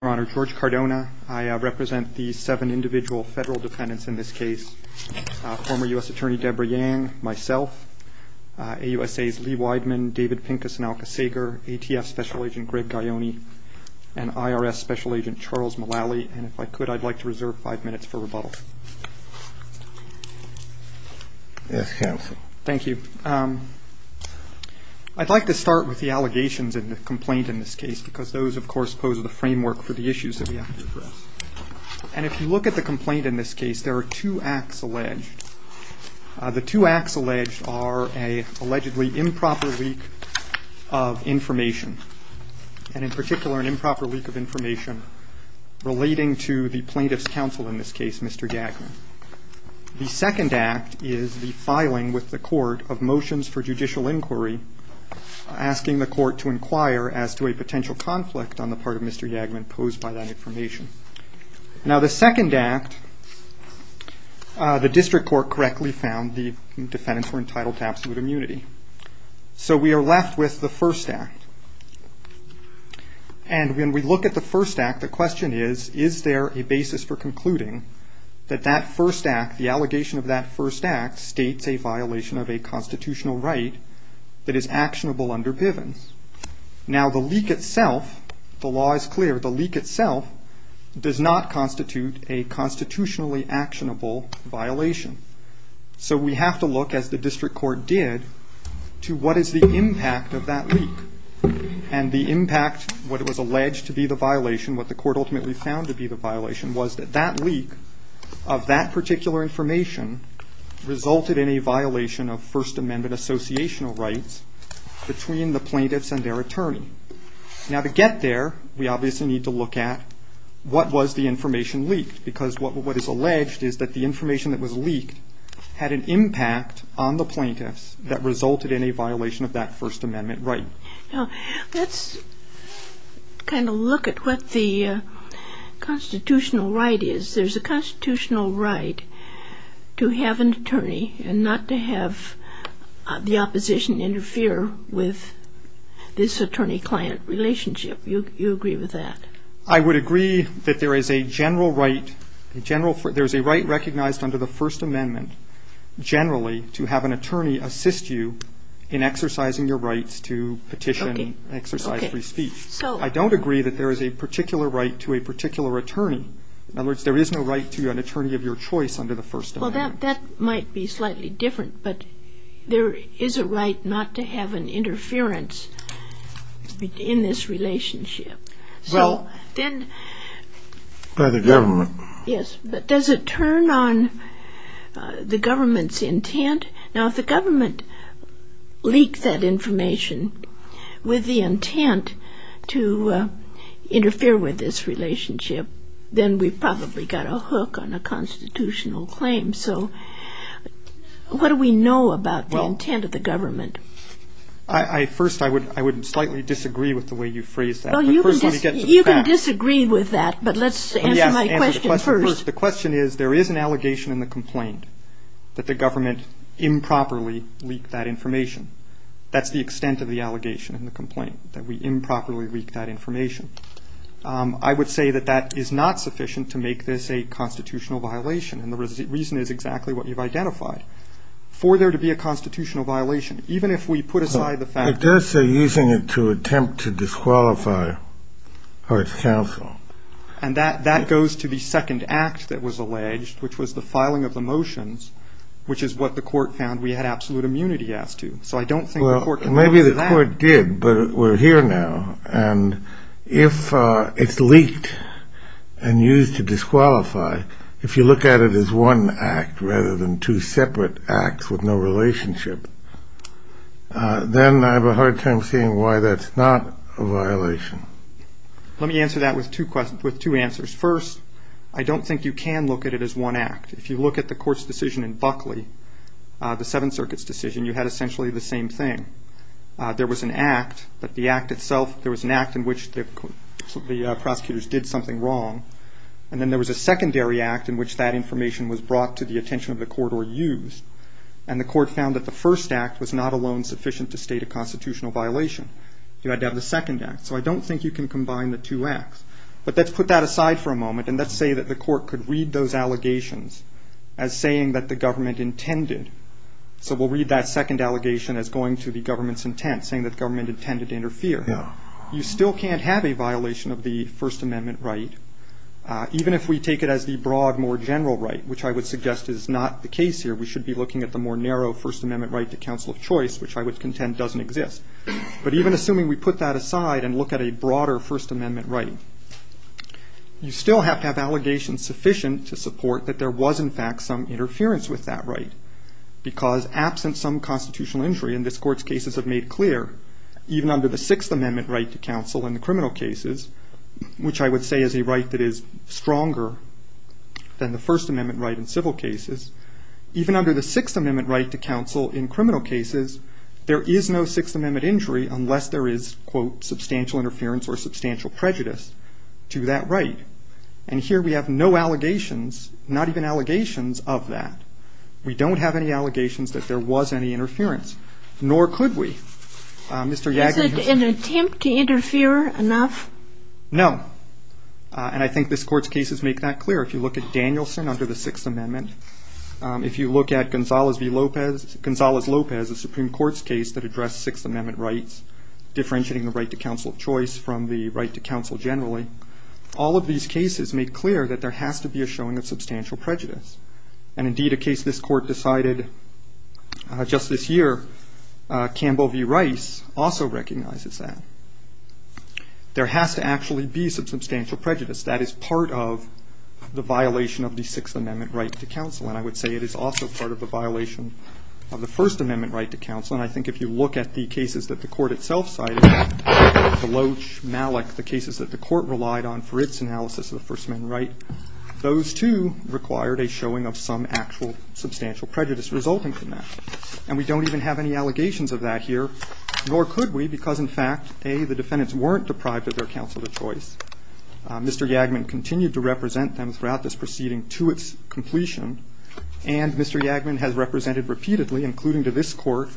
I represent the seven individual federal defendants in this case, former U.S. Attorney Debra Yang, myself, AUSA's Lee Weidman, David Pincus and Alka Sager, ATF Special Agent Greg Gaioni, and IRS Special Agent Charles Mullally. And if I could, I'd like to reserve five minutes for rebuttal. Thank you. I'd like to start with the allegations in the complaint in this case, because those, of course, pose the framework for the issues that we have to address. And if you look at the complaint in this case, there are two acts alleged. The two acts alleged are an allegedly improper leak of information, and in particular, an improper leak of information relating to the plaintiff's counsel in this case, Mr. Yagman. The second act is the filing with the court of motions for judicial inquiry, asking the court to inquire as to a potential conflict on the part of Mr. Yagman posed by that information. Now, the second act, the district court correctly found the defendants were entitled to absolute immunity. So we are left with the first act. And when we look at the first act, the question is, is there a basis for concluding that that first act, the allegation of that first act, states a violation of a constitutional right that is actionable under Pivens? Now, the leak itself, the law is clear, the leak itself does not constitute a constitutionally actionable violation. So we have to look, as the district court did, to what is the impact of that leak. And the impact, what was alleged to be the violation, what the court ultimately found to be the violation, was that that leak of that particular information resulted in a violation of First Amendment associational rights between the plaintiffs and their attorney. Now, to get there, we obviously need to look at what was the information leaked, because what is alleged is that the information that was leaked had an impact on the plaintiffs that resulted in a violation of that First Amendment right. Now, let's kind of look at what the constitutional right is. There's a constitutional right to have an attorney and not to have the opposition interfere with this attorney-client relationship. You agree with that? I would agree that there is a general right, there's a right recognized under the First Amendment generally to have an attorney assist you in exercising your rights to petition exercise free speech. I don't agree that there is a particular right to a particular attorney. In other words, there is no right to an attorney of your choice under the First Amendment. Well, that might be slightly different, but there is a right not to have an interference in this relationship. Well, by the government. Yes, but does it turn on the government's intent? Now, if the government leaked that information with the intent to interfere with this relationship, then we've probably got a hook on a constitutional claim. So what do we know about the intent of the government? First, I would slightly disagree with the way you phrased that. You can disagree with that, but let's answer my question first. The question is there is an allegation in the complaint that the government improperly leaked that information. That's the extent of the allegation in the complaint, that we improperly leaked that information. I would say that that is not sufficient to make this a constitutional violation, and the reason is exactly what you've identified. For there to be a constitutional violation, even if we put aside the fact that... It does say using it to attempt to disqualify our counsel. And that goes to the second act that was alleged, which was the filing of the motions, which is what the court found we had absolute immunity as to. So I don't think the court can go to that. The court did, but we're here now, and if it's leaked and used to disqualify, if you look at it as one act rather than two separate acts with no relationship, then I have a hard time seeing why that's not a violation. Let me answer that with two answers. First, I don't think you can look at it as one act. If you look at the court's decision in Buckley, the Seventh Circuit's decision, you had essentially the same thing. There was an act, but the act itself, there was an act in which the prosecutors did something wrong. And then there was a secondary act in which that information was brought to the attention of the court or used, and the court found that the first act was not alone sufficient to state a constitutional violation. You had to have the second act. So I don't think you can combine the two acts. But let's put that aside for a moment, and let's say that the court could read those allegations as saying that the government intended. So we'll read that second allegation as going to the government's intent, saying that the government intended to interfere. You still can't have a violation of the First Amendment right, even if we take it as the broad, more general right, which I would suggest is not the case here. We should be looking at the more narrow First Amendment right to counsel of choice, which I would contend doesn't exist. But even assuming we put that aside and look at a broader First Amendment right, you still have to have allegations sufficient to support that there was, in fact, some interference with that right. Because absent some constitutional injury, and this Court's cases have made clear, even under the Sixth Amendment right to counsel in the criminal cases, which I would say is a right that is stronger than the First Amendment right in civil cases. Even under the Sixth Amendment right to counsel in criminal cases, there is no Sixth Amendment injury unless there is, quote, substantial interference or substantial prejudice to that right. And here we have no allegations, not even allegations, of that. We don't have any allegations that there was any interference, nor could we. Mr. Yagler, you said... Is it an attempt to interfere enough? No. And I think this Court's cases make that clear. If you look at Danielson under the Sixth Amendment, if you look at Gonzales v. Lopez, Gonzales-Lopez, a Supreme Court's case that addressed Sixth Amendment rights, differentiating the right to counsel of choice from the right to counsel generally, all of these cases make clear that there has to be a showing of substantial prejudice. And indeed, a case this Court decided just this year, Campbell v. Rice, also recognizes that. There has to actually be substantial prejudice. That is part of the violation of the Sixth Amendment right to counsel. And I would say it is also part of the violation of the First Amendment right to counsel. And I think if you look at the cases that the Court itself cited, Deloach v. Malik, the cases that the Court relied on for its analysis of the First Amendment right, those, too, required a showing of some actual substantial prejudice resulting from that. And we don't even have any allegations of that here, nor could we, because, in fact, A, the defendants weren't deprived of their counsel of choice. Mr. Yagler continued to represent them throughout this proceeding to its completion. And Mr. Yagler has represented repeatedly, including to this Court,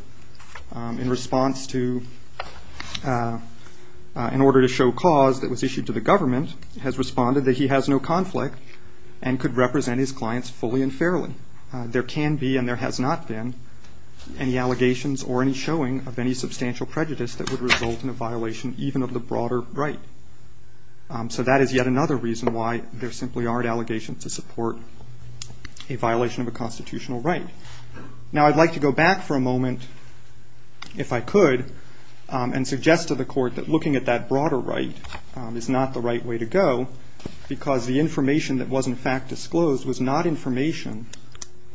in response to an order to show cause that was issued to the government, has responded that he has no conflict and could represent his clients fully and fairly. There can be and there has not been any allegations or any showing of any substantial prejudice that would result in a violation even of the broader right. So that is yet another reason why there simply aren't allegations to support a violation of a constitutional right. Now, I'd like to go back for a moment, if I could, and suggest to the Court that looking at that broader right is not the right way to go, because the information that was, in fact, disclosed was not information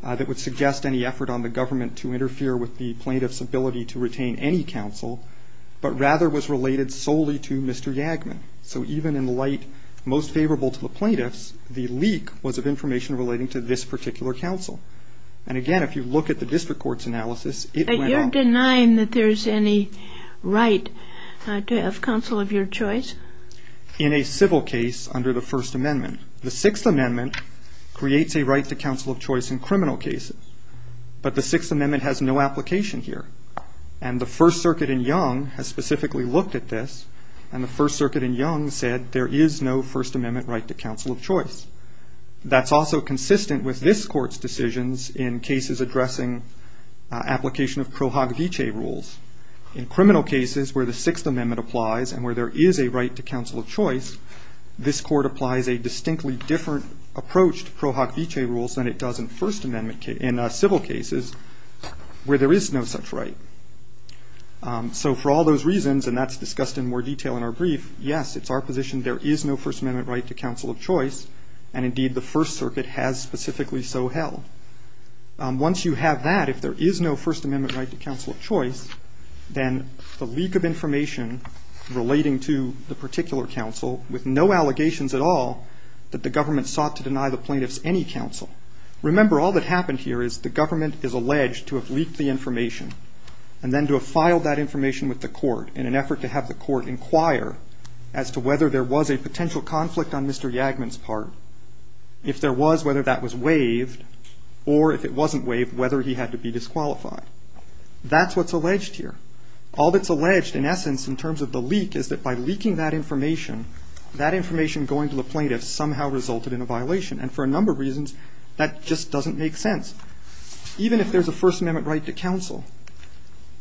that would suggest any effort on the government to interfere with the plaintiff's ability to retain any counsel, but rather was related solely to Mr. Yagler. So even in light most favorable to the plaintiffs, the leak was of information relating to this particular counsel. And, again, if you look at the district court's analysis, it went on. But you're denying that there's any right to have counsel of your choice? In a civil case under the First Amendment, the Sixth Amendment creates a right to counsel of choice in criminal cases, but the Sixth Amendment has no application here. And the First Circuit in Young has specifically looked at this, and the First Circuit in Young said there is no First Amendment right to counsel of choice. That's also consistent with this Court's decisions in cases addressing application of pro hoc vicee rules. In criminal cases where the Sixth Amendment applies and where there is a right to counsel of choice, this Court applies a distinctly different approach to pro hoc vicee rules than it does in First Amendment, in civil cases where there is no such right. So for all those reasons, and that's discussed in more detail in our brief, yes, it's our position there is no First Amendment right to counsel of choice. And, indeed, the First Circuit has specifically so held. Once you have that, if there is no First Amendment right to counsel of choice, then the leak of information relating to the particular counsel with no allegations at all that the government sought to deny the plaintiffs any counsel. Remember, all that happened here is the government is alleged to have leaked the information and then to have filed that information with the court in an effort to have the court inquire as to whether there was a potential conflict on Mr. Yagman's part, if there was, whether that was waived, or if it wasn't waived, whether he had to be disqualified. That's what's alleged here. All that's alleged, in essence, in terms of the leak is that by leaking that information, that information going to the plaintiffs somehow resulted in a violation. And for a number of reasons, that just doesn't make sense. Even if there's a First Amendment right to counsel,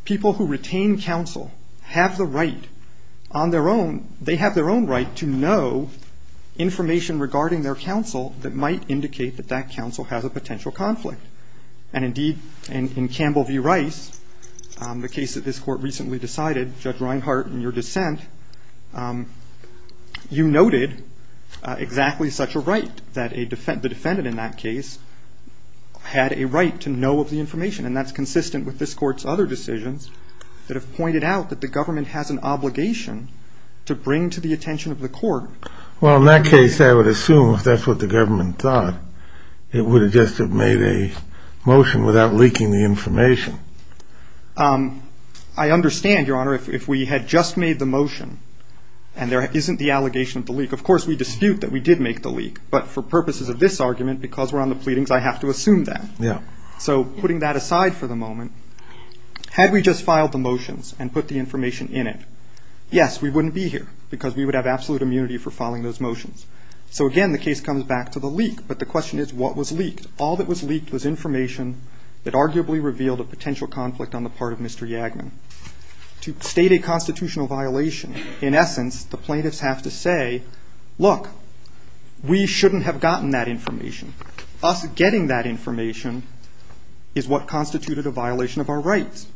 people who retain counsel have the right on their own, they have their own right to know information regarding their counsel that might indicate that that counsel has a potential conflict. And, indeed, in Campbell v. Rice, the case that this Court recently decided, Judge Reinhart, in your dissent, you noted exactly such a right, that the defendant in that case had a right to know of the information. And that's consistent with this Court's other decisions that have pointed out that the government has an obligation to bring to the attention of the court. Well, in that case, I would assume, if that's what the government thought, it would have just made a motion without leaking the information. I understand, Your Honor, if we had just made the motion and there isn't the allegation of the leak. Of course, we dispute that we did make the leak. But for purposes of this argument, because we're on the pleadings, I have to assume that. Yeah. So putting that aside for the moment, had we just filed the motions and put the information in it, yes, we wouldn't be here, because we would have absolute immunity for filing those motions. So, again, the case comes back to the leak. But the question is, what was leaked? All that was leaked was information that arguably revealed a potential conflict on the part of Mr. Yagman. To state a constitutional violation, in essence, the plaintiffs have to say, look, we shouldn't have gotten that information. Us getting that information is what constituted a violation of our rights.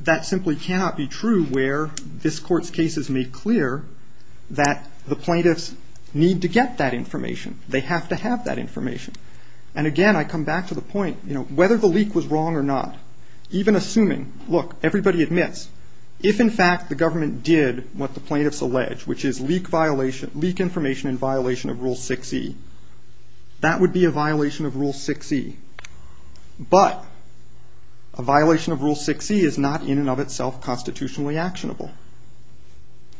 That simply cannot be true where this Court's case is made clear that the plaintiffs need to get that information. They have to have that information. And, again, I come back to the point, you know, whether the leak was wrong or not, even assuming, look, everybody admits, if, in fact, the government did what the plaintiffs allege, which is leak information in violation of Rule 6E, that would be a violation of Rule 6E. But a violation of Rule 6E is not, in and of itself, constitutionally actionable.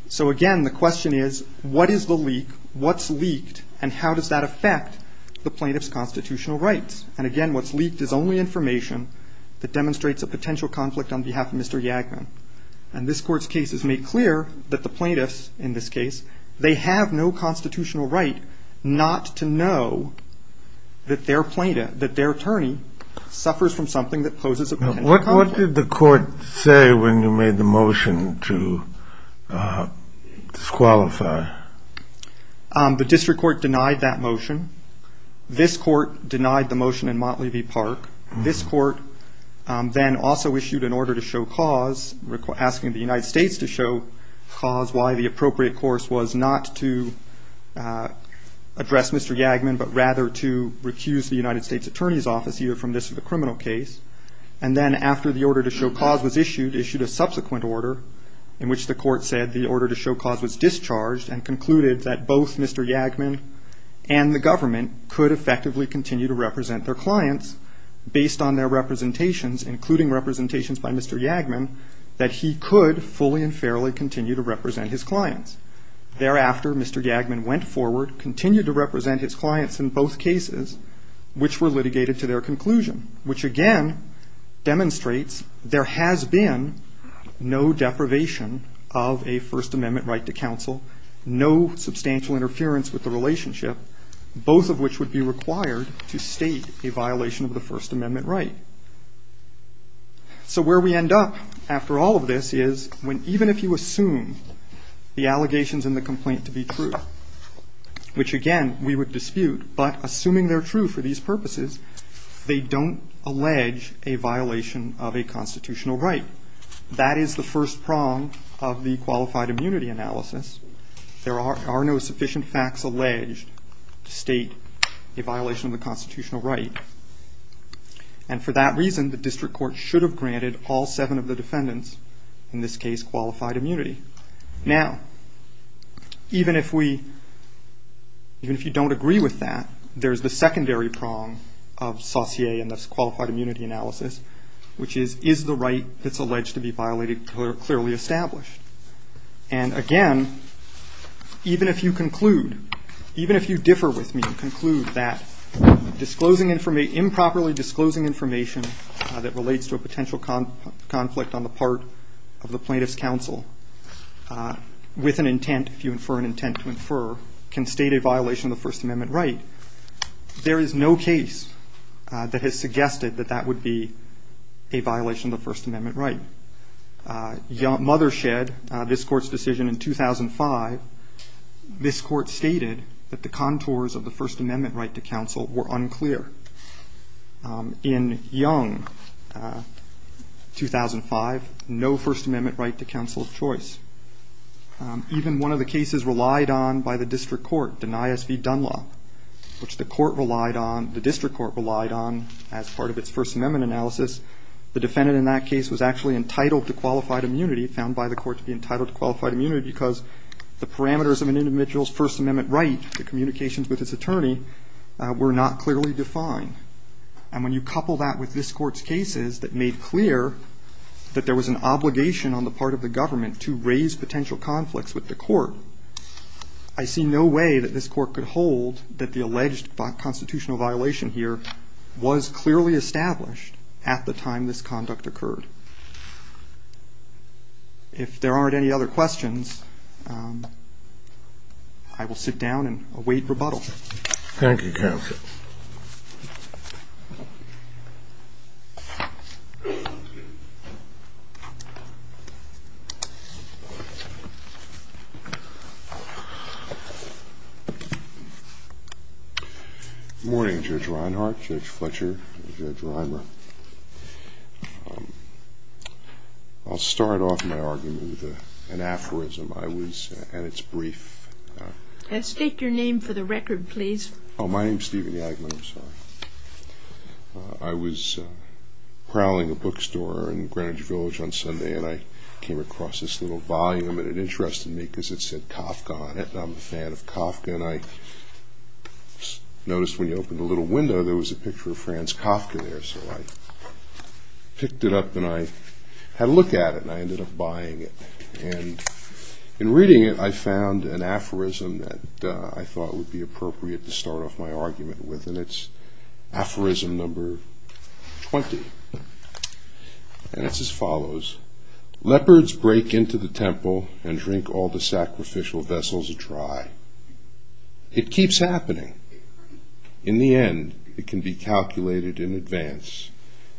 So, again, the question is, what is the leak? What's leaked? And how does that affect the plaintiffs' constitutional rights? And, again, what's leaked is only information that demonstrates a potential conflict on behalf of Mr. Yagman. And this Court's case is made clear that the plaintiffs, in this case, they have no constitutional right not to know that their attorney suffers from something that poses a potential conflict. What did the Court say when you made the motion to disqualify? The District Court denied that motion. This Court denied the motion in Montlevy Park. This Court then also issued an order to show cause, asking the United States to show cause, why the appropriate course was not to address Mr. Yagman, but rather to recuse the United States Attorney's Office either from this or the criminal case. And then, after the order to show cause was issued, issued a subsequent order, in which the Court said the order to show cause was discharged, and concluded that both Mr. Yagman and the government could effectively continue to represent their clients, based on their representations, including representations by Mr. Yagman, that he could fully and fairly continue to represent his clients. Thereafter, Mr. Yagman went forward, continued to represent his clients in both cases, which were litigated to their conclusion, which again demonstrates there has been no deprivation of a First Amendment right to counsel, no substantial interference with the relationship, both of which would be required to state a violation of the First Amendment right. So where we end up after all of this is when even if you assume the allegations in the complaint to be true, which again we would dispute, but assuming they're true for these purposes, they don't allege a violation of a constitutional right. That is the first prong of the qualified immunity analysis. There are no sufficient facts alleged to state a violation of the constitutional right. And for that reason, the district court should have granted all seven of the defendants, in this case, qualified immunity. Now, even if we, even if you don't agree with that, there's the secondary prong of Saussure in this qualified immunity analysis, which is, is the right that's alleged to be violated clearly established? And again, even if you conclude, even if you differ with me and conclude that disclosing information or improperly disclosing information that relates to a potential conflict on the part of the plaintiff's counsel with an intent, if you infer an intent to infer, can state a violation of the First Amendment right, there is no case that has suggested that that would be a violation of the First Amendment right. Mothershed, this court's decision in 2005, this court stated that the contours of the First Amendment right to counsel were unclear. In Young, 2005, no First Amendment right to counsel of choice. Even one of the cases relied on by the district court, Denias v. Dunlop, which the court relied on, the district court relied on as part of its First Amendment analysis, the defendant in that case was actually entitled to qualified immunity, found by the court to be entitled to qualified immunity, because the parameters of an individual's First Amendment right, the communications with his attorney, were not clearly defined. And when you couple that with this court's cases that made clear that there was an obligation on the part of the government to raise potential conflicts with the court, I see no way that this court could hold that the alleged constitutional violation here was clearly established at the time this conduct occurred. If there aren't any other questions, I will sit down and await rebuttal. Thank you, counsel. Good morning, Judge Reinhart, Judge Fletcher, Judge Reimer. I'll start off my argument with an aphorism. I was at its brief. State your name for the record, please. Oh, my name's Stephen Yagler. I was prowling a bookstore in Greenwich Village on Sunday, and I came across this little volume, and it interested me because it said Kafka on it, and I'm a fan of Kafka, and I noticed when you opened a little window, there was a picture of Franz Kafka there, so I picked it up, and I had a look at it, and I ended up buying it. And in reading it, I found an aphorism that I thought would be appropriate to start off my argument with, and it's aphorism number 20, and it's as follows. Leopards break into the temple and drink all the sacrificial vessels dry. It keeps happening. In the end, it can be calculated in advance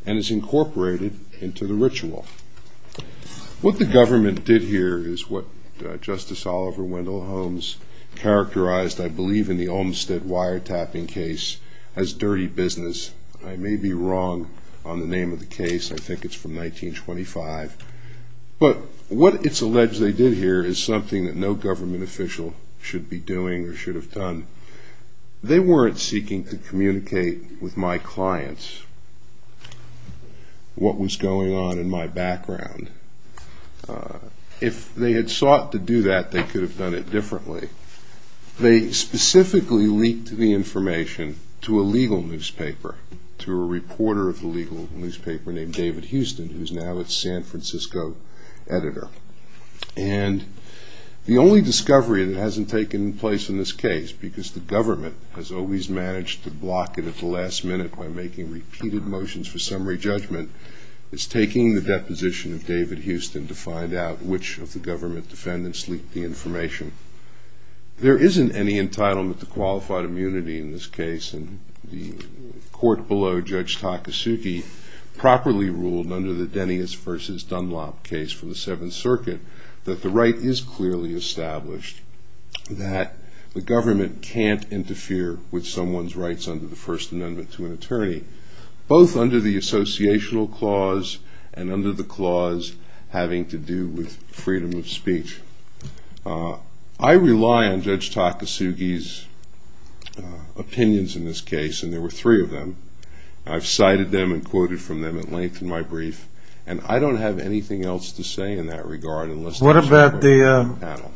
and is incorporated into the ritual. What the government did here is what Justice Oliver Wendell Holmes characterized, I believe, in the Olmstead wiretapping case as dirty business. I may be wrong on the name of the case. I think it's from 1925, but what it's alleged they did here is something that no government official should be doing or should have done. They weren't seeking to communicate with my clients what was going on in my background. If they had sought to do that, they could have done it differently. They specifically leaked the information to a legal newspaper, to a reporter of the legal newspaper named David Houston, who's now its San Francisco editor. And the only discovery that hasn't taken place in this case, because the government has always managed to block it at the last minute by making repeated motions for summary judgment, is taking the deposition of David Houston to find out which of the government defendants leaked the information. There isn't any entitlement to qualified immunity in this case, and the court below, Judge Takasugi, properly ruled under the Denius v. Dunlop case for the Seventh Circuit that the right is clearly established that the government can't interfere with someone's rights under the First Amendment to an attorney, both under the associational clause and under the clause having to do with freedom of speech. I rely on Judge Takasugi's opinions in this case, and there were three of them. I've cited them and quoted from them at length in my brief, and I don't have anything else to say in that regard. What about the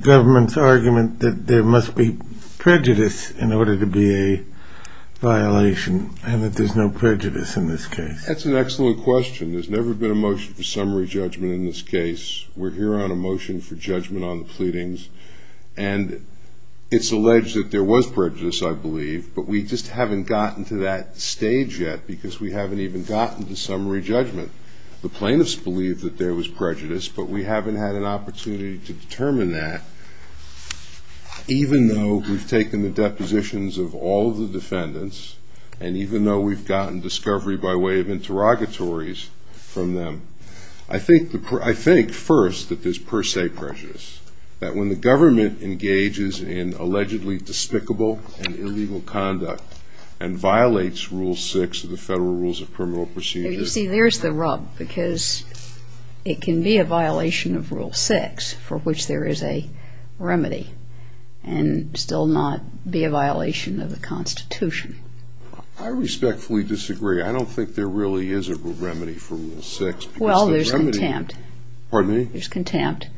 government's argument that there must be prejudice in order to be a violation, and that there's no prejudice in this case? That's an excellent question. There's never been a motion for summary judgment in this case. We're here on a motion for judgment on the pleadings, and it's alleged that there was prejudice, I believe, but we just haven't gotten to that stage yet because we haven't even gotten to summary judgment. The plaintiffs believe that there was prejudice, but we haven't had an opportunity to determine that even though we've taken the depositions of all the defendants and even though we've gotten discovery by way of interrogatories from them. I think, first, that there's per se prejudice, that when the government engages in allegedly despicable and illegal conduct and violates Rule 6 of the Federal Rules of Criminal Procedure... You see, there's the rub, because it can be a violation of Rule 6, for which there is a remedy, and still not be a violation of the Constitution. I respectfully disagree. I don't think there really is a remedy for Rule 6. Well, there's contempt. Well, the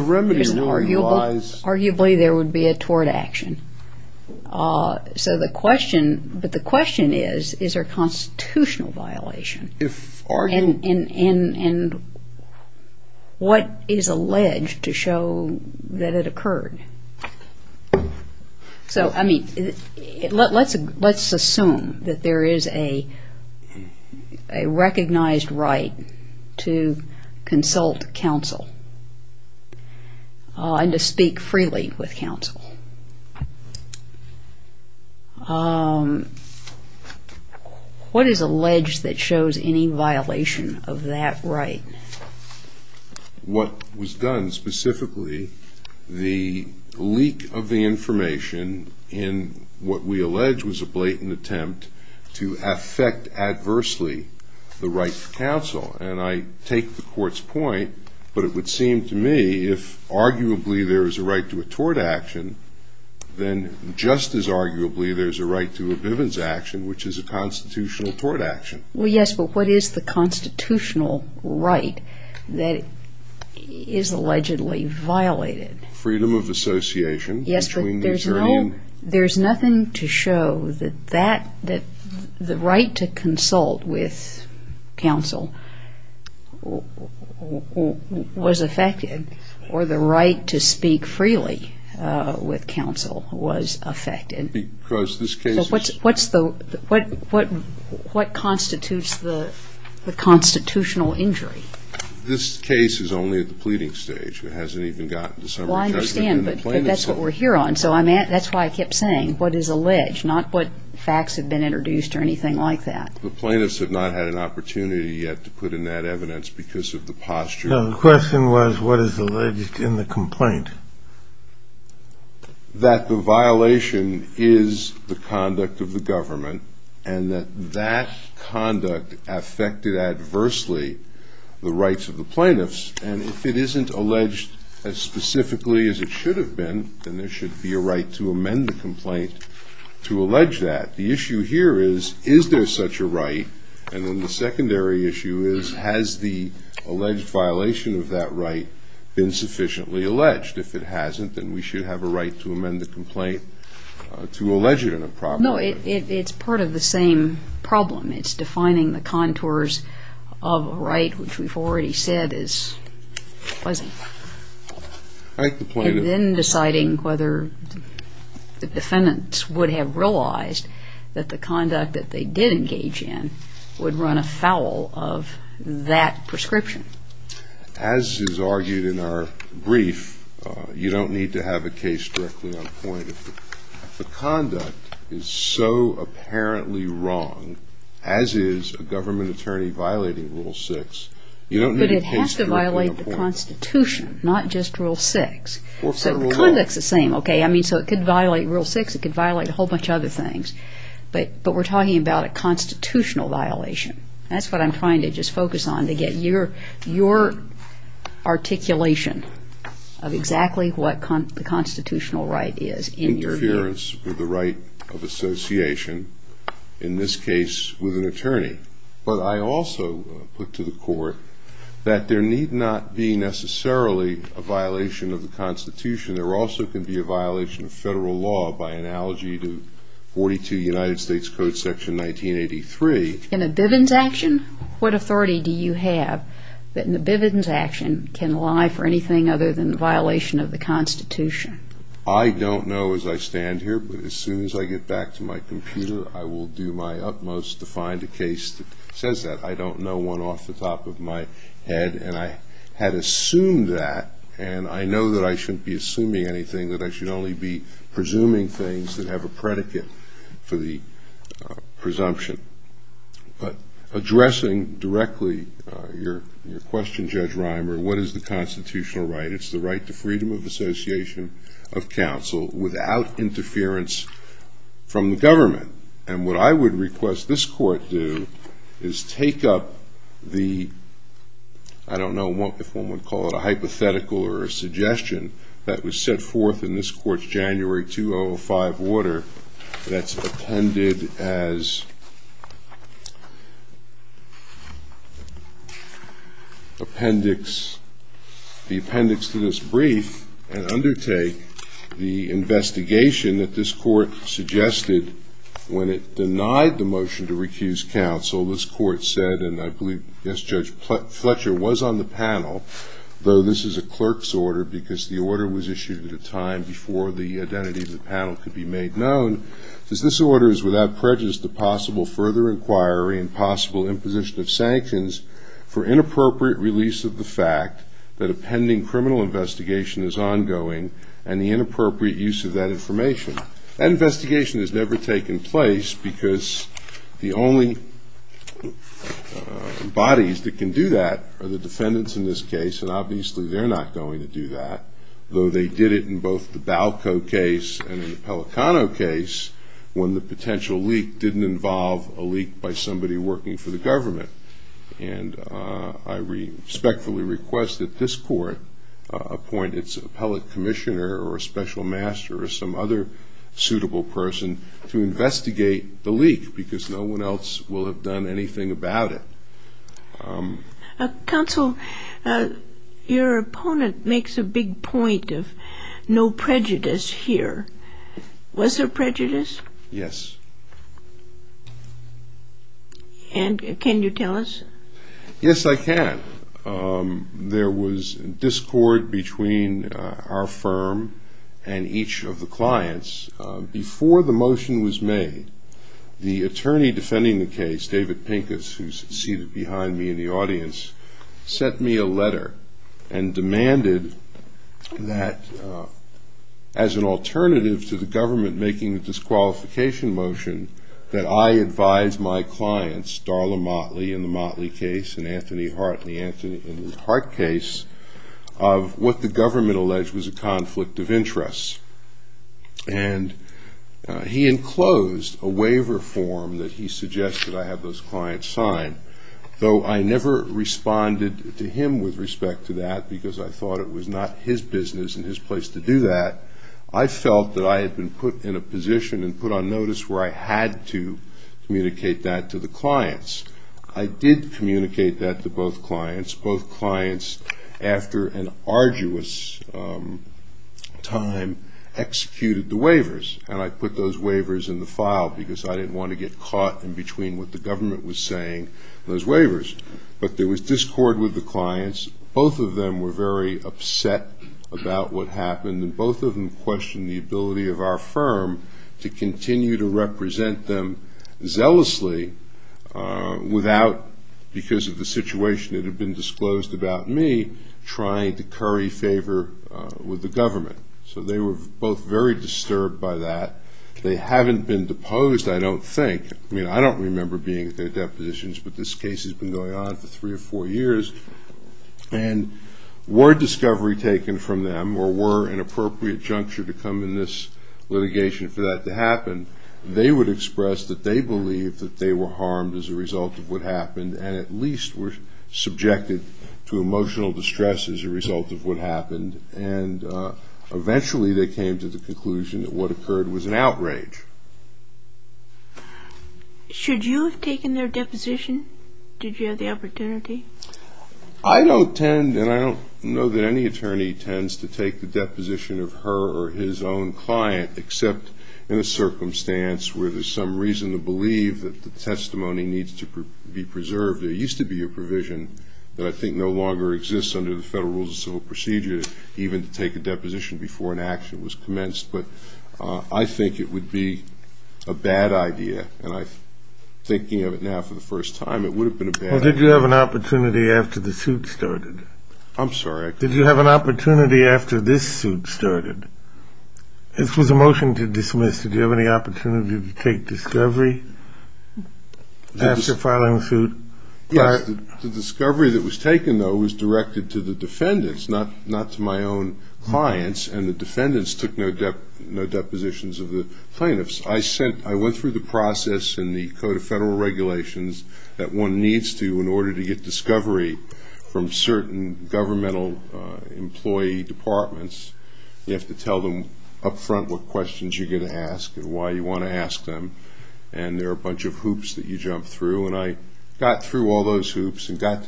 remedy really lies... Arguably, there would be a tort action. But the question is, is there a constitutional violation? And what is alleged to show that it occurred? So, I mean, let's assume that there is a recognized right to consult counsel and to speak freely with counsel. What is alleged that shows any violation of that right? What was done, specifically, the leak of the information in what we allege was a blatant attempt to affect adversely the right to counsel. And I take the Court's point, but it would seem to me, if arguably there is a right to a tort action, then just as arguably there is a right to a Bivens action, which is a constitutional tort action. Well, yes, but what is the constitutional right that is allegedly violated? Freedom of association. Yes, but there's nothing to show that the right to consult with counsel was affected or the right to speak freely with counsel was affected. Because this case is... What constitutes the constitutional injury? This case is only at the pleading stage. It hasn't even gotten to summary judgment. Well, I understand, but that's what we're here on. So that's why I kept saying, what is alleged, not what facts have been introduced or anything like that. The plaintiffs have not had an opportunity yet to put in that evidence because of the posture. No, the question was, what is alleged in the complaint? That the violation is the conduct of the government and that that conduct affected adversely the rights of the plaintiffs. And if it isn't alleged as specifically as it should have been, then there should be a right to amend the complaint to allege that. The issue here is, is there such a right? And then the secondary issue is, has the alleged violation of that right been sufficiently alleged? If it hasn't, then we should have a right to amend the complaint to allege it in a proper way. No, it's part of the same problem. It's defining the contours of a right, which we've already said is pleasant. And then deciding whether the defendants would have realized that the conduct that they did engage in would run afoul of that prescription. As is argued in our brief, you don't need to have a case directly on point. If the conduct is so apparently wrong, as is a government attorney violating Rule 6, you don't need a case directly on point. Not just Rule 6. So it could violate Rule 6. It could violate a whole bunch of other things. But we're talking about a constitutional violation. That's what I'm trying to just focus on, to get your articulation of exactly what the constitutional right is in your view. Interference with the right of association, in this case with an attorney. But I also put to the court that there need not be necessarily a violation of the Constitution. There also can be a violation of federal law by analogy to 42 United States Code Section 1983. In a Bivens action, what authority do you have that in a Bivens action can lie for anything other than the violation of the Constitution? I don't know as I stand here, but as soon as I get back to my computer, I will do my utmost to find a case that says that. I don't know one off the top of my head, and I had assumed that, and I know that I shouldn't be assuming anything, that I should only be presuming things that have a predicate for the presumption. But addressing directly your question, Judge Reimer, what is the constitutional right? It's the right to freedom of association of counsel without interference from the government. And what I would request this court do is take up the, I don't know if one would call it a hypothetical or a suggestion that was set forth in this court's January 2005 order that's appended as the appendix to this brief and undertake the investigation that this court suggested when it denied the motion to recuse counsel. This court said, and I believe, yes, Judge Fletcher was on the panel, though this is a clerk's order because the order was issued at a time before the identity of the panel could be made known. This order is without prejudice to possible further inquiry and possible imposition of sanctions for inappropriate release of the fact that a pending criminal investigation is ongoing and the inappropriate use of that information. That investigation has never taken place because the only bodies that can do that are the defendants in this case and obviously they're not going to do that, though they did it in both the Balco case and in the Pelicano case when the potential leak didn't involve a leak by somebody working for the government. And I respectfully request that this court appoint its appellate commissioner or special master or some other suitable person to investigate the leak because no one else will have done anything about it. Counsel, your opponent makes a big point of no prejudice here. Was there prejudice? Yes. And can you tell us? Yes, I can. There was discord between our firm and each of the clients. Before the motion was made, the attorney defending the case, David Pincus, who's seated behind me in the audience, sent me a letter and demanded that as an alternative to the government making a disqualification motion that I advise my clients, Darla Motley in the Motley case and Anthony Hart in the Hart case, of what the government alleged was a conflict of interests. And he enclosed a waiver form that he suggested I have those clients sign, though I never responded to him with respect to that because I thought it was not his business and his place to do that. I felt that I had been put in a position and put on notice where I had to communicate that to the clients. I did communicate that to both clients. Both clients, after an arduous time, executed the waivers. And I put those waivers in the file because I didn't want to get caught in between what the government was saying and those waivers. But there was discord with the clients. Both of them were very upset about what happened and both of them questioned the ability of our firm to continue to represent them zealously without, because of the situation that had been disclosed about me, trying to curry favor with the government. So they were both very disturbed by that. They haven't been deposed, I don't think. I mean, I don't remember being at their depositions, but this case has been going on for three or four years. And were discovery taken from them or were an appropriate juncture to come in this litigation for that to happen, they would express that they believed that they were harmed as a result of what happened and at least were subjected to emotional distress as a result of what happened. And eventually they came to the conclusion that what occurred was an outrage. Should you have taken their deposition? Did you have the opportunity? I don't tend, and I don't know that any attorney tends to take the deposition of her or his own client except in a circumstance where there's some reason to believe that the testimony needs to be preserved. There used to be a provision that I think no longer exists under the Federal Rules of Civil Procedure even to take a deposition before an action was commenced. But I think it would be a bad idea, and I'm thinking of it now for the first time. It would have been a bad idea. Well, did you have an opportunity after the suit started? I'm sorry? Did you have an opportunity after this suit started? This was a motion to dismiss. Did you have any opportunity to take discovery after filing a suit? Yes, the discovery that was taken, though, was directed to the defendants, not to my own clients, and the defendants took no depositions of the plaintiffs. I went through the process in the Code of Federal Regulations that one needs to in order to get discovery from certain governmental employee departments. You have to tell them up front what questions you're going to ask and why you want to ask them, and there are a bunch of hoops that you jump through, and I got through all those hoops and got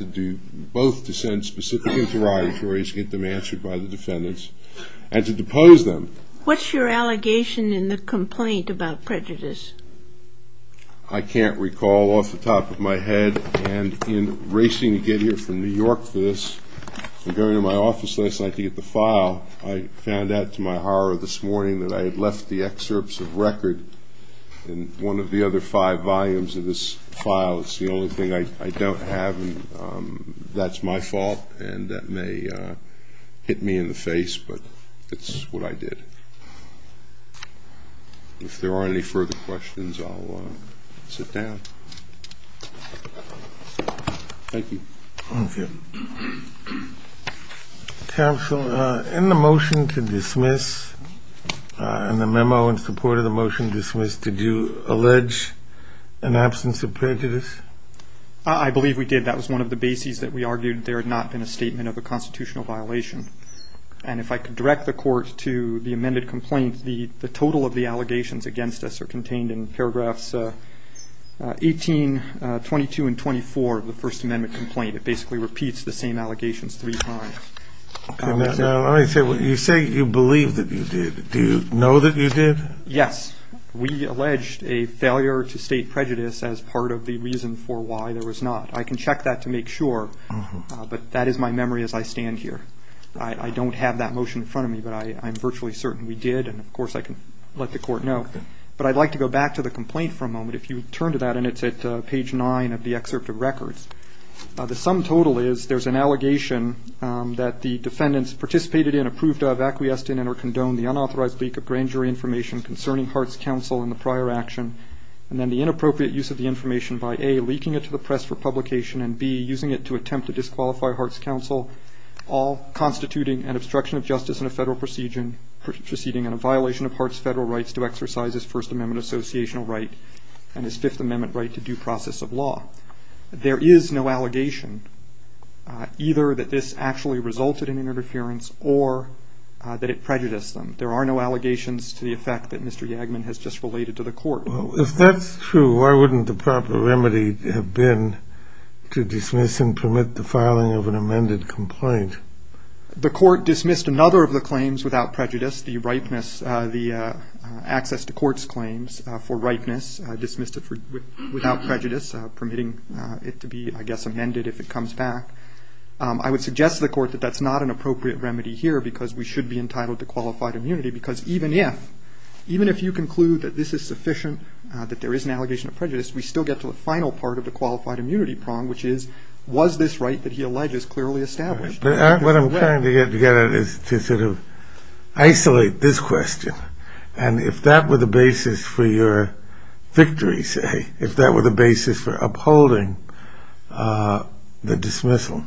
both to send specific interrogatories to get them answered by the defendants and to depose them. What's your allegation in the complaint about prejudice? I can't recall off the top of my head, and in racing to get here from New York for this and going to my office last night to get the file, I found out to my horror this morning that I had left the excerpts of record in one of the other five volumes of this file. It's the only thing I don't have, and that's my fault, and that may hit me in the face, but it's what I did. If there aren't any further questions, I'll sit down. Thank you. Thank you. Counsel, in the motion to dismiss, in the memo in support of the motion to dismiss, did you allege an absence of prejudice? I believe we did. That was one of the bases that we argued there had not been a statement of a constitutional violation, and if I could direct the Court to the amended complaint, the total of the allegations against us are contained in paragraphs 18, 22, and 24 of the First Amendment complaint. It basically repeats the same allegations three times. Now, let me say, you say you believe that you did. Do you know that you did? Yes. We alleged a failure to state prejudice as part of the reason for why there was not. I can check that to make sure, but that is my memory as I stand here. I don't have that motion in front of me, but I'm virtually certain we did, and, of course, I can let the Court know. But I'd like to go back to the complaint for a moment. If you turn to that, and it's at page 9 of the excerpt of records, the sum total is there's an allegation that the defendants participated in, approved of, acquiesced in, and or condoned the unauthorized leak of grand jury information concerning Hart's counsel in the prior action, and then the inappropriate use of the information by A, leaking it to the press for publication, and B, using it to attempt to disqualify Hart's counsel, all constituting an obstruction of justice in a federal proceeding and a violation of Hart's federal rights to exercise his First Amendment associational right and his Fifth Amendment right to due process of law. There is no allegation either that this actually resulted in interference or that it prejudiced them. There are no allegations to the effect that Mr. Yagman has just related to the Court. If that's true, why wouldn't the proper remedy have been to dismiss and permit the filing of an amended complaint? The Court dismissed another of the claims without prejudice, the access to court's claims for ripeness, dismissed it without prejudice, permitting it to be, I guess, amended if it comes back. I would suggest to the Court that that's not an appropriate remedy here because we should be entitled to qualified immunity, because even if you conclude that this is sufficient, that there is an allegation of prejudice, we still get to the final part of the qualified immunity prong, which is, was this right that he alleges clearly established? What I'm trying to get at is to sort of isolate this question and if that were the basis for your victory, say, if that were the basis for upholding the dismissal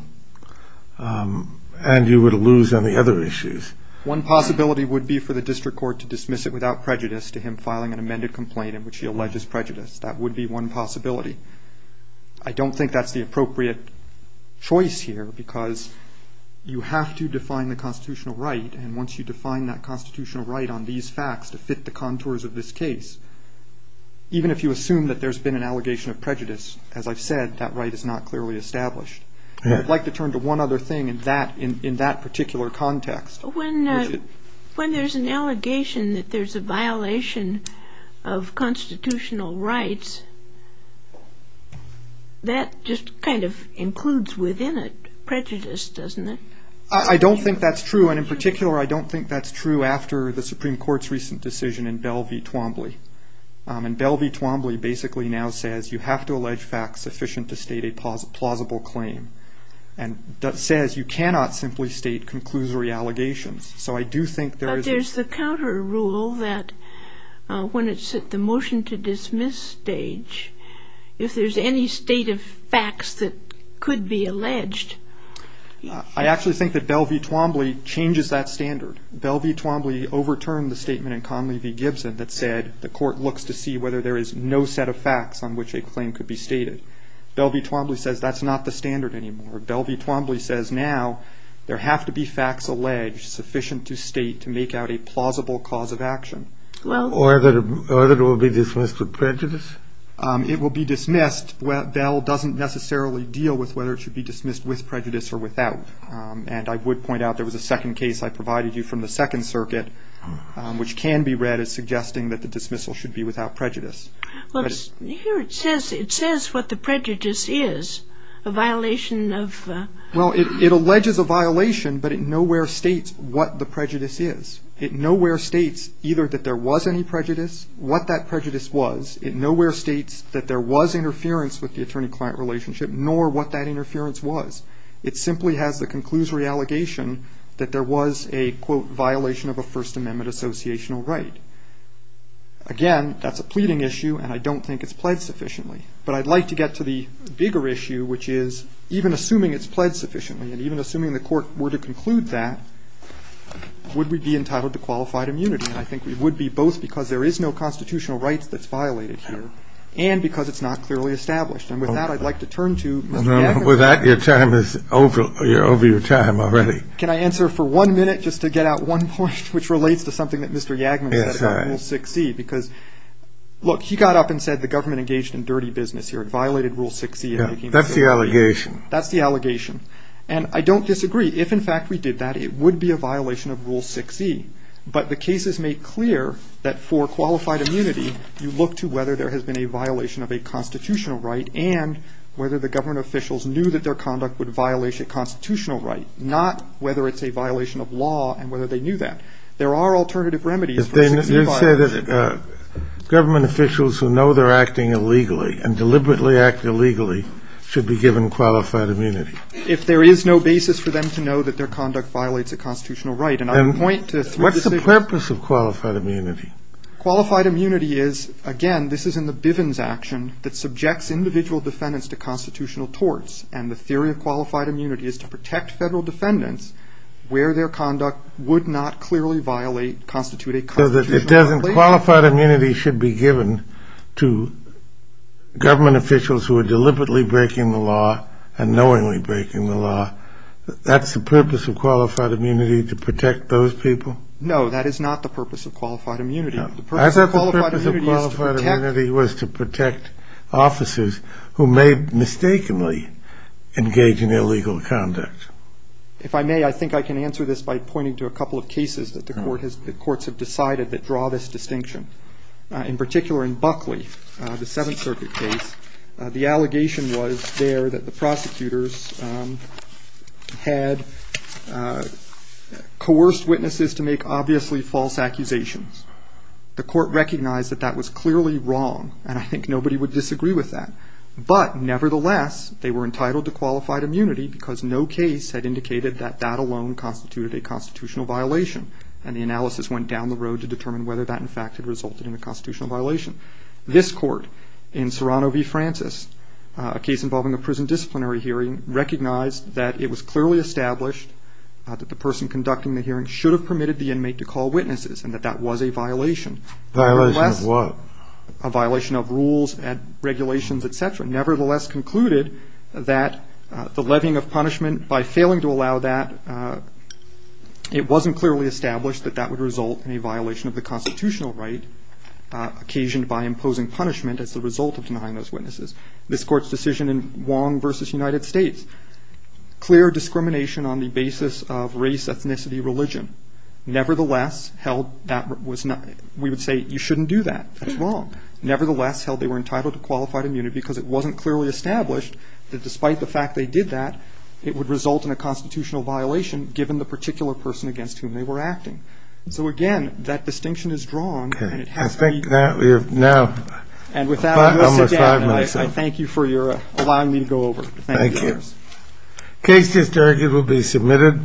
and you would lose on the other issues. One possibility would be for the District Court to dismiss it without prejudice to him filing an amended complaint in which he alleges prejudice. That would be one possibility. I don't think that's the appropriate choice here because you have to define the constitutional right and once you define that constitutional right on these facts to fit the contours of this case, even if you assume that there's been an allegation of prejudice, as I've said, that right is not clearly established. I'd like to turn to one other thing in that particular context. When there's an allegation that there's a violation of constitutional rights, that just kind of includes within it prejudice, doesn't it? I don't think that's true, and in particular I don't think that's true after the Supreme Court's recent decision in Bell v. Twombly. And Bell v. Twombly basically now says you have to allege facts sufficient to state a plausible claim and says you cannot simply state conclusory allegations. So I do think there is a... if there's any state of facts that could be alleged. I actually think that Bell v. Twombly changes that standard. Bell v. Twombly overturned the statement in Conley v. Gibson that said the court looks to see whether there is no set of facts on which a claim could be stated. Bell v. Twombly says that's not the standard anymore. Bell v. Twombly says now there have to be facts alleged sufficient to state to make out a plausible cause of action. Or that it will be dismissed with prejudice? It will be dismissed. Bell doesn't necessarily deal with whether it should be dismissed with prejudice or without. And I would point out there was a second case I provided you from the Second Circuit which can be read as suggesting that the dismissal should be without prejudice. Well, here it says what the prejudice is, a violation of... Well, it alleges a violation, but it nowhere states what the prejudice is. It nowhere states either that there was any prejudice, what that prejudice was. It nowhere states that there was interference with the attorney-client relationship nor what that interference was. It simply has the conclusory allegation that there was a quote, violation of a First Amendment associational right. Again, that's a pleading issue and I don't think it's pledged sufficiently. But I'd like to get to the bigger issue which is even assuming it's pledged sufficiently and even assuming the court were to conclude that would we be entitled to qualified immunity? And I think we would be both because there is no constitutional rights that's violated here and because it's not clearly established. And with that, I'd like to turn to Mr. Yagman. With that, your time is over. You're over your time already. Can I answer for one minute just to get out one point which relates to something that Mr. Yagman said about Rule 6e? Because, look, he got up and said the government engaged in dirty business here. It violated Rule 6e. That's the allegation. That's the allegation. And I don't disagree. If, in fact, we did that, it would be a violation of Rule 6e. But the cases make clear that for qualified immunity, you look to whether there has been a violation of a constitutional right and whether the government officials knew that their conduct would violate a constitutional right, not whether it's a violation of law and whether they knew that. There are alternative remedies for a 6e violation. You said that government officials who know they're acting illegally and deliberately act illegally should be given qualified immunity. If there is no basis for them to know that their conduct violates a constitutional right. What's the purpose of qualified immunity? Qualified immunity is, again, this is in the Bivens action that subjects individual defendants to constitutional torts. And the theory of qualified immunity is to protect federal defendants where their conduct would not clearly violate, constitute a constitutional right. Qualified immunity should be given to government officials who are deliberately breaking the law and knowingly breaking the law. That's the purpose of qualified immunity, to protect those people? No, that is not the purpose of qualified immunity. I thought the purpose of qualified immunity was to protect officers who may mistakenly engage in illegal conduct. If I may, I think I can answer this by pointing to a couple of cases that the courts have decided that draw this distinction. In particular, in Buckley, the Seventh Circuit case, the allegation was there that the prosecutors had coerced witnesses to make obviously false accusations. The court recognized that that was clearly wrong, and I think nobody would disagree with that. But nevertheless, they were entitled to qualified immunity because no case had indicated that that alone constituted a constitutional violation. And the analysis went down the road to determine whether that, in fact, had resulted in a constitutional violation. This court, in Serrano v. Francis, a case involving a prison disciplinary hearing, recognized that it was clearly established that the person conducting the hearing should have permitted the inmate to call witnesses, and that that was a violation. A violation of what? A violation of rules and regulations, et cetera. Nevertheless, concluded that the levying of punishment, by failing to allow that, it wasn't clearly established that that would result in a violation of the constitutional right occasioned by imposing punishment as the result of denying those witnesses. This Court's decision in Wong v. United States, clear discrimination on the basis of race, ethnicity, religion. Nevertheless, held that was not we would say you shouldn't do that. That's wrong. Nevertheless, held they were entitled to qualified immunity because it wasn't clearly established that despite the fact they did that, it would result in a constitutional violation given the particular person against whom they were acting. So again, that distinction is drawn. Okay. I think that we are now almost five minutes in. And without us again, I thank you for allowing me to go over. Thank you. Thank you. The case just argued will be submitted.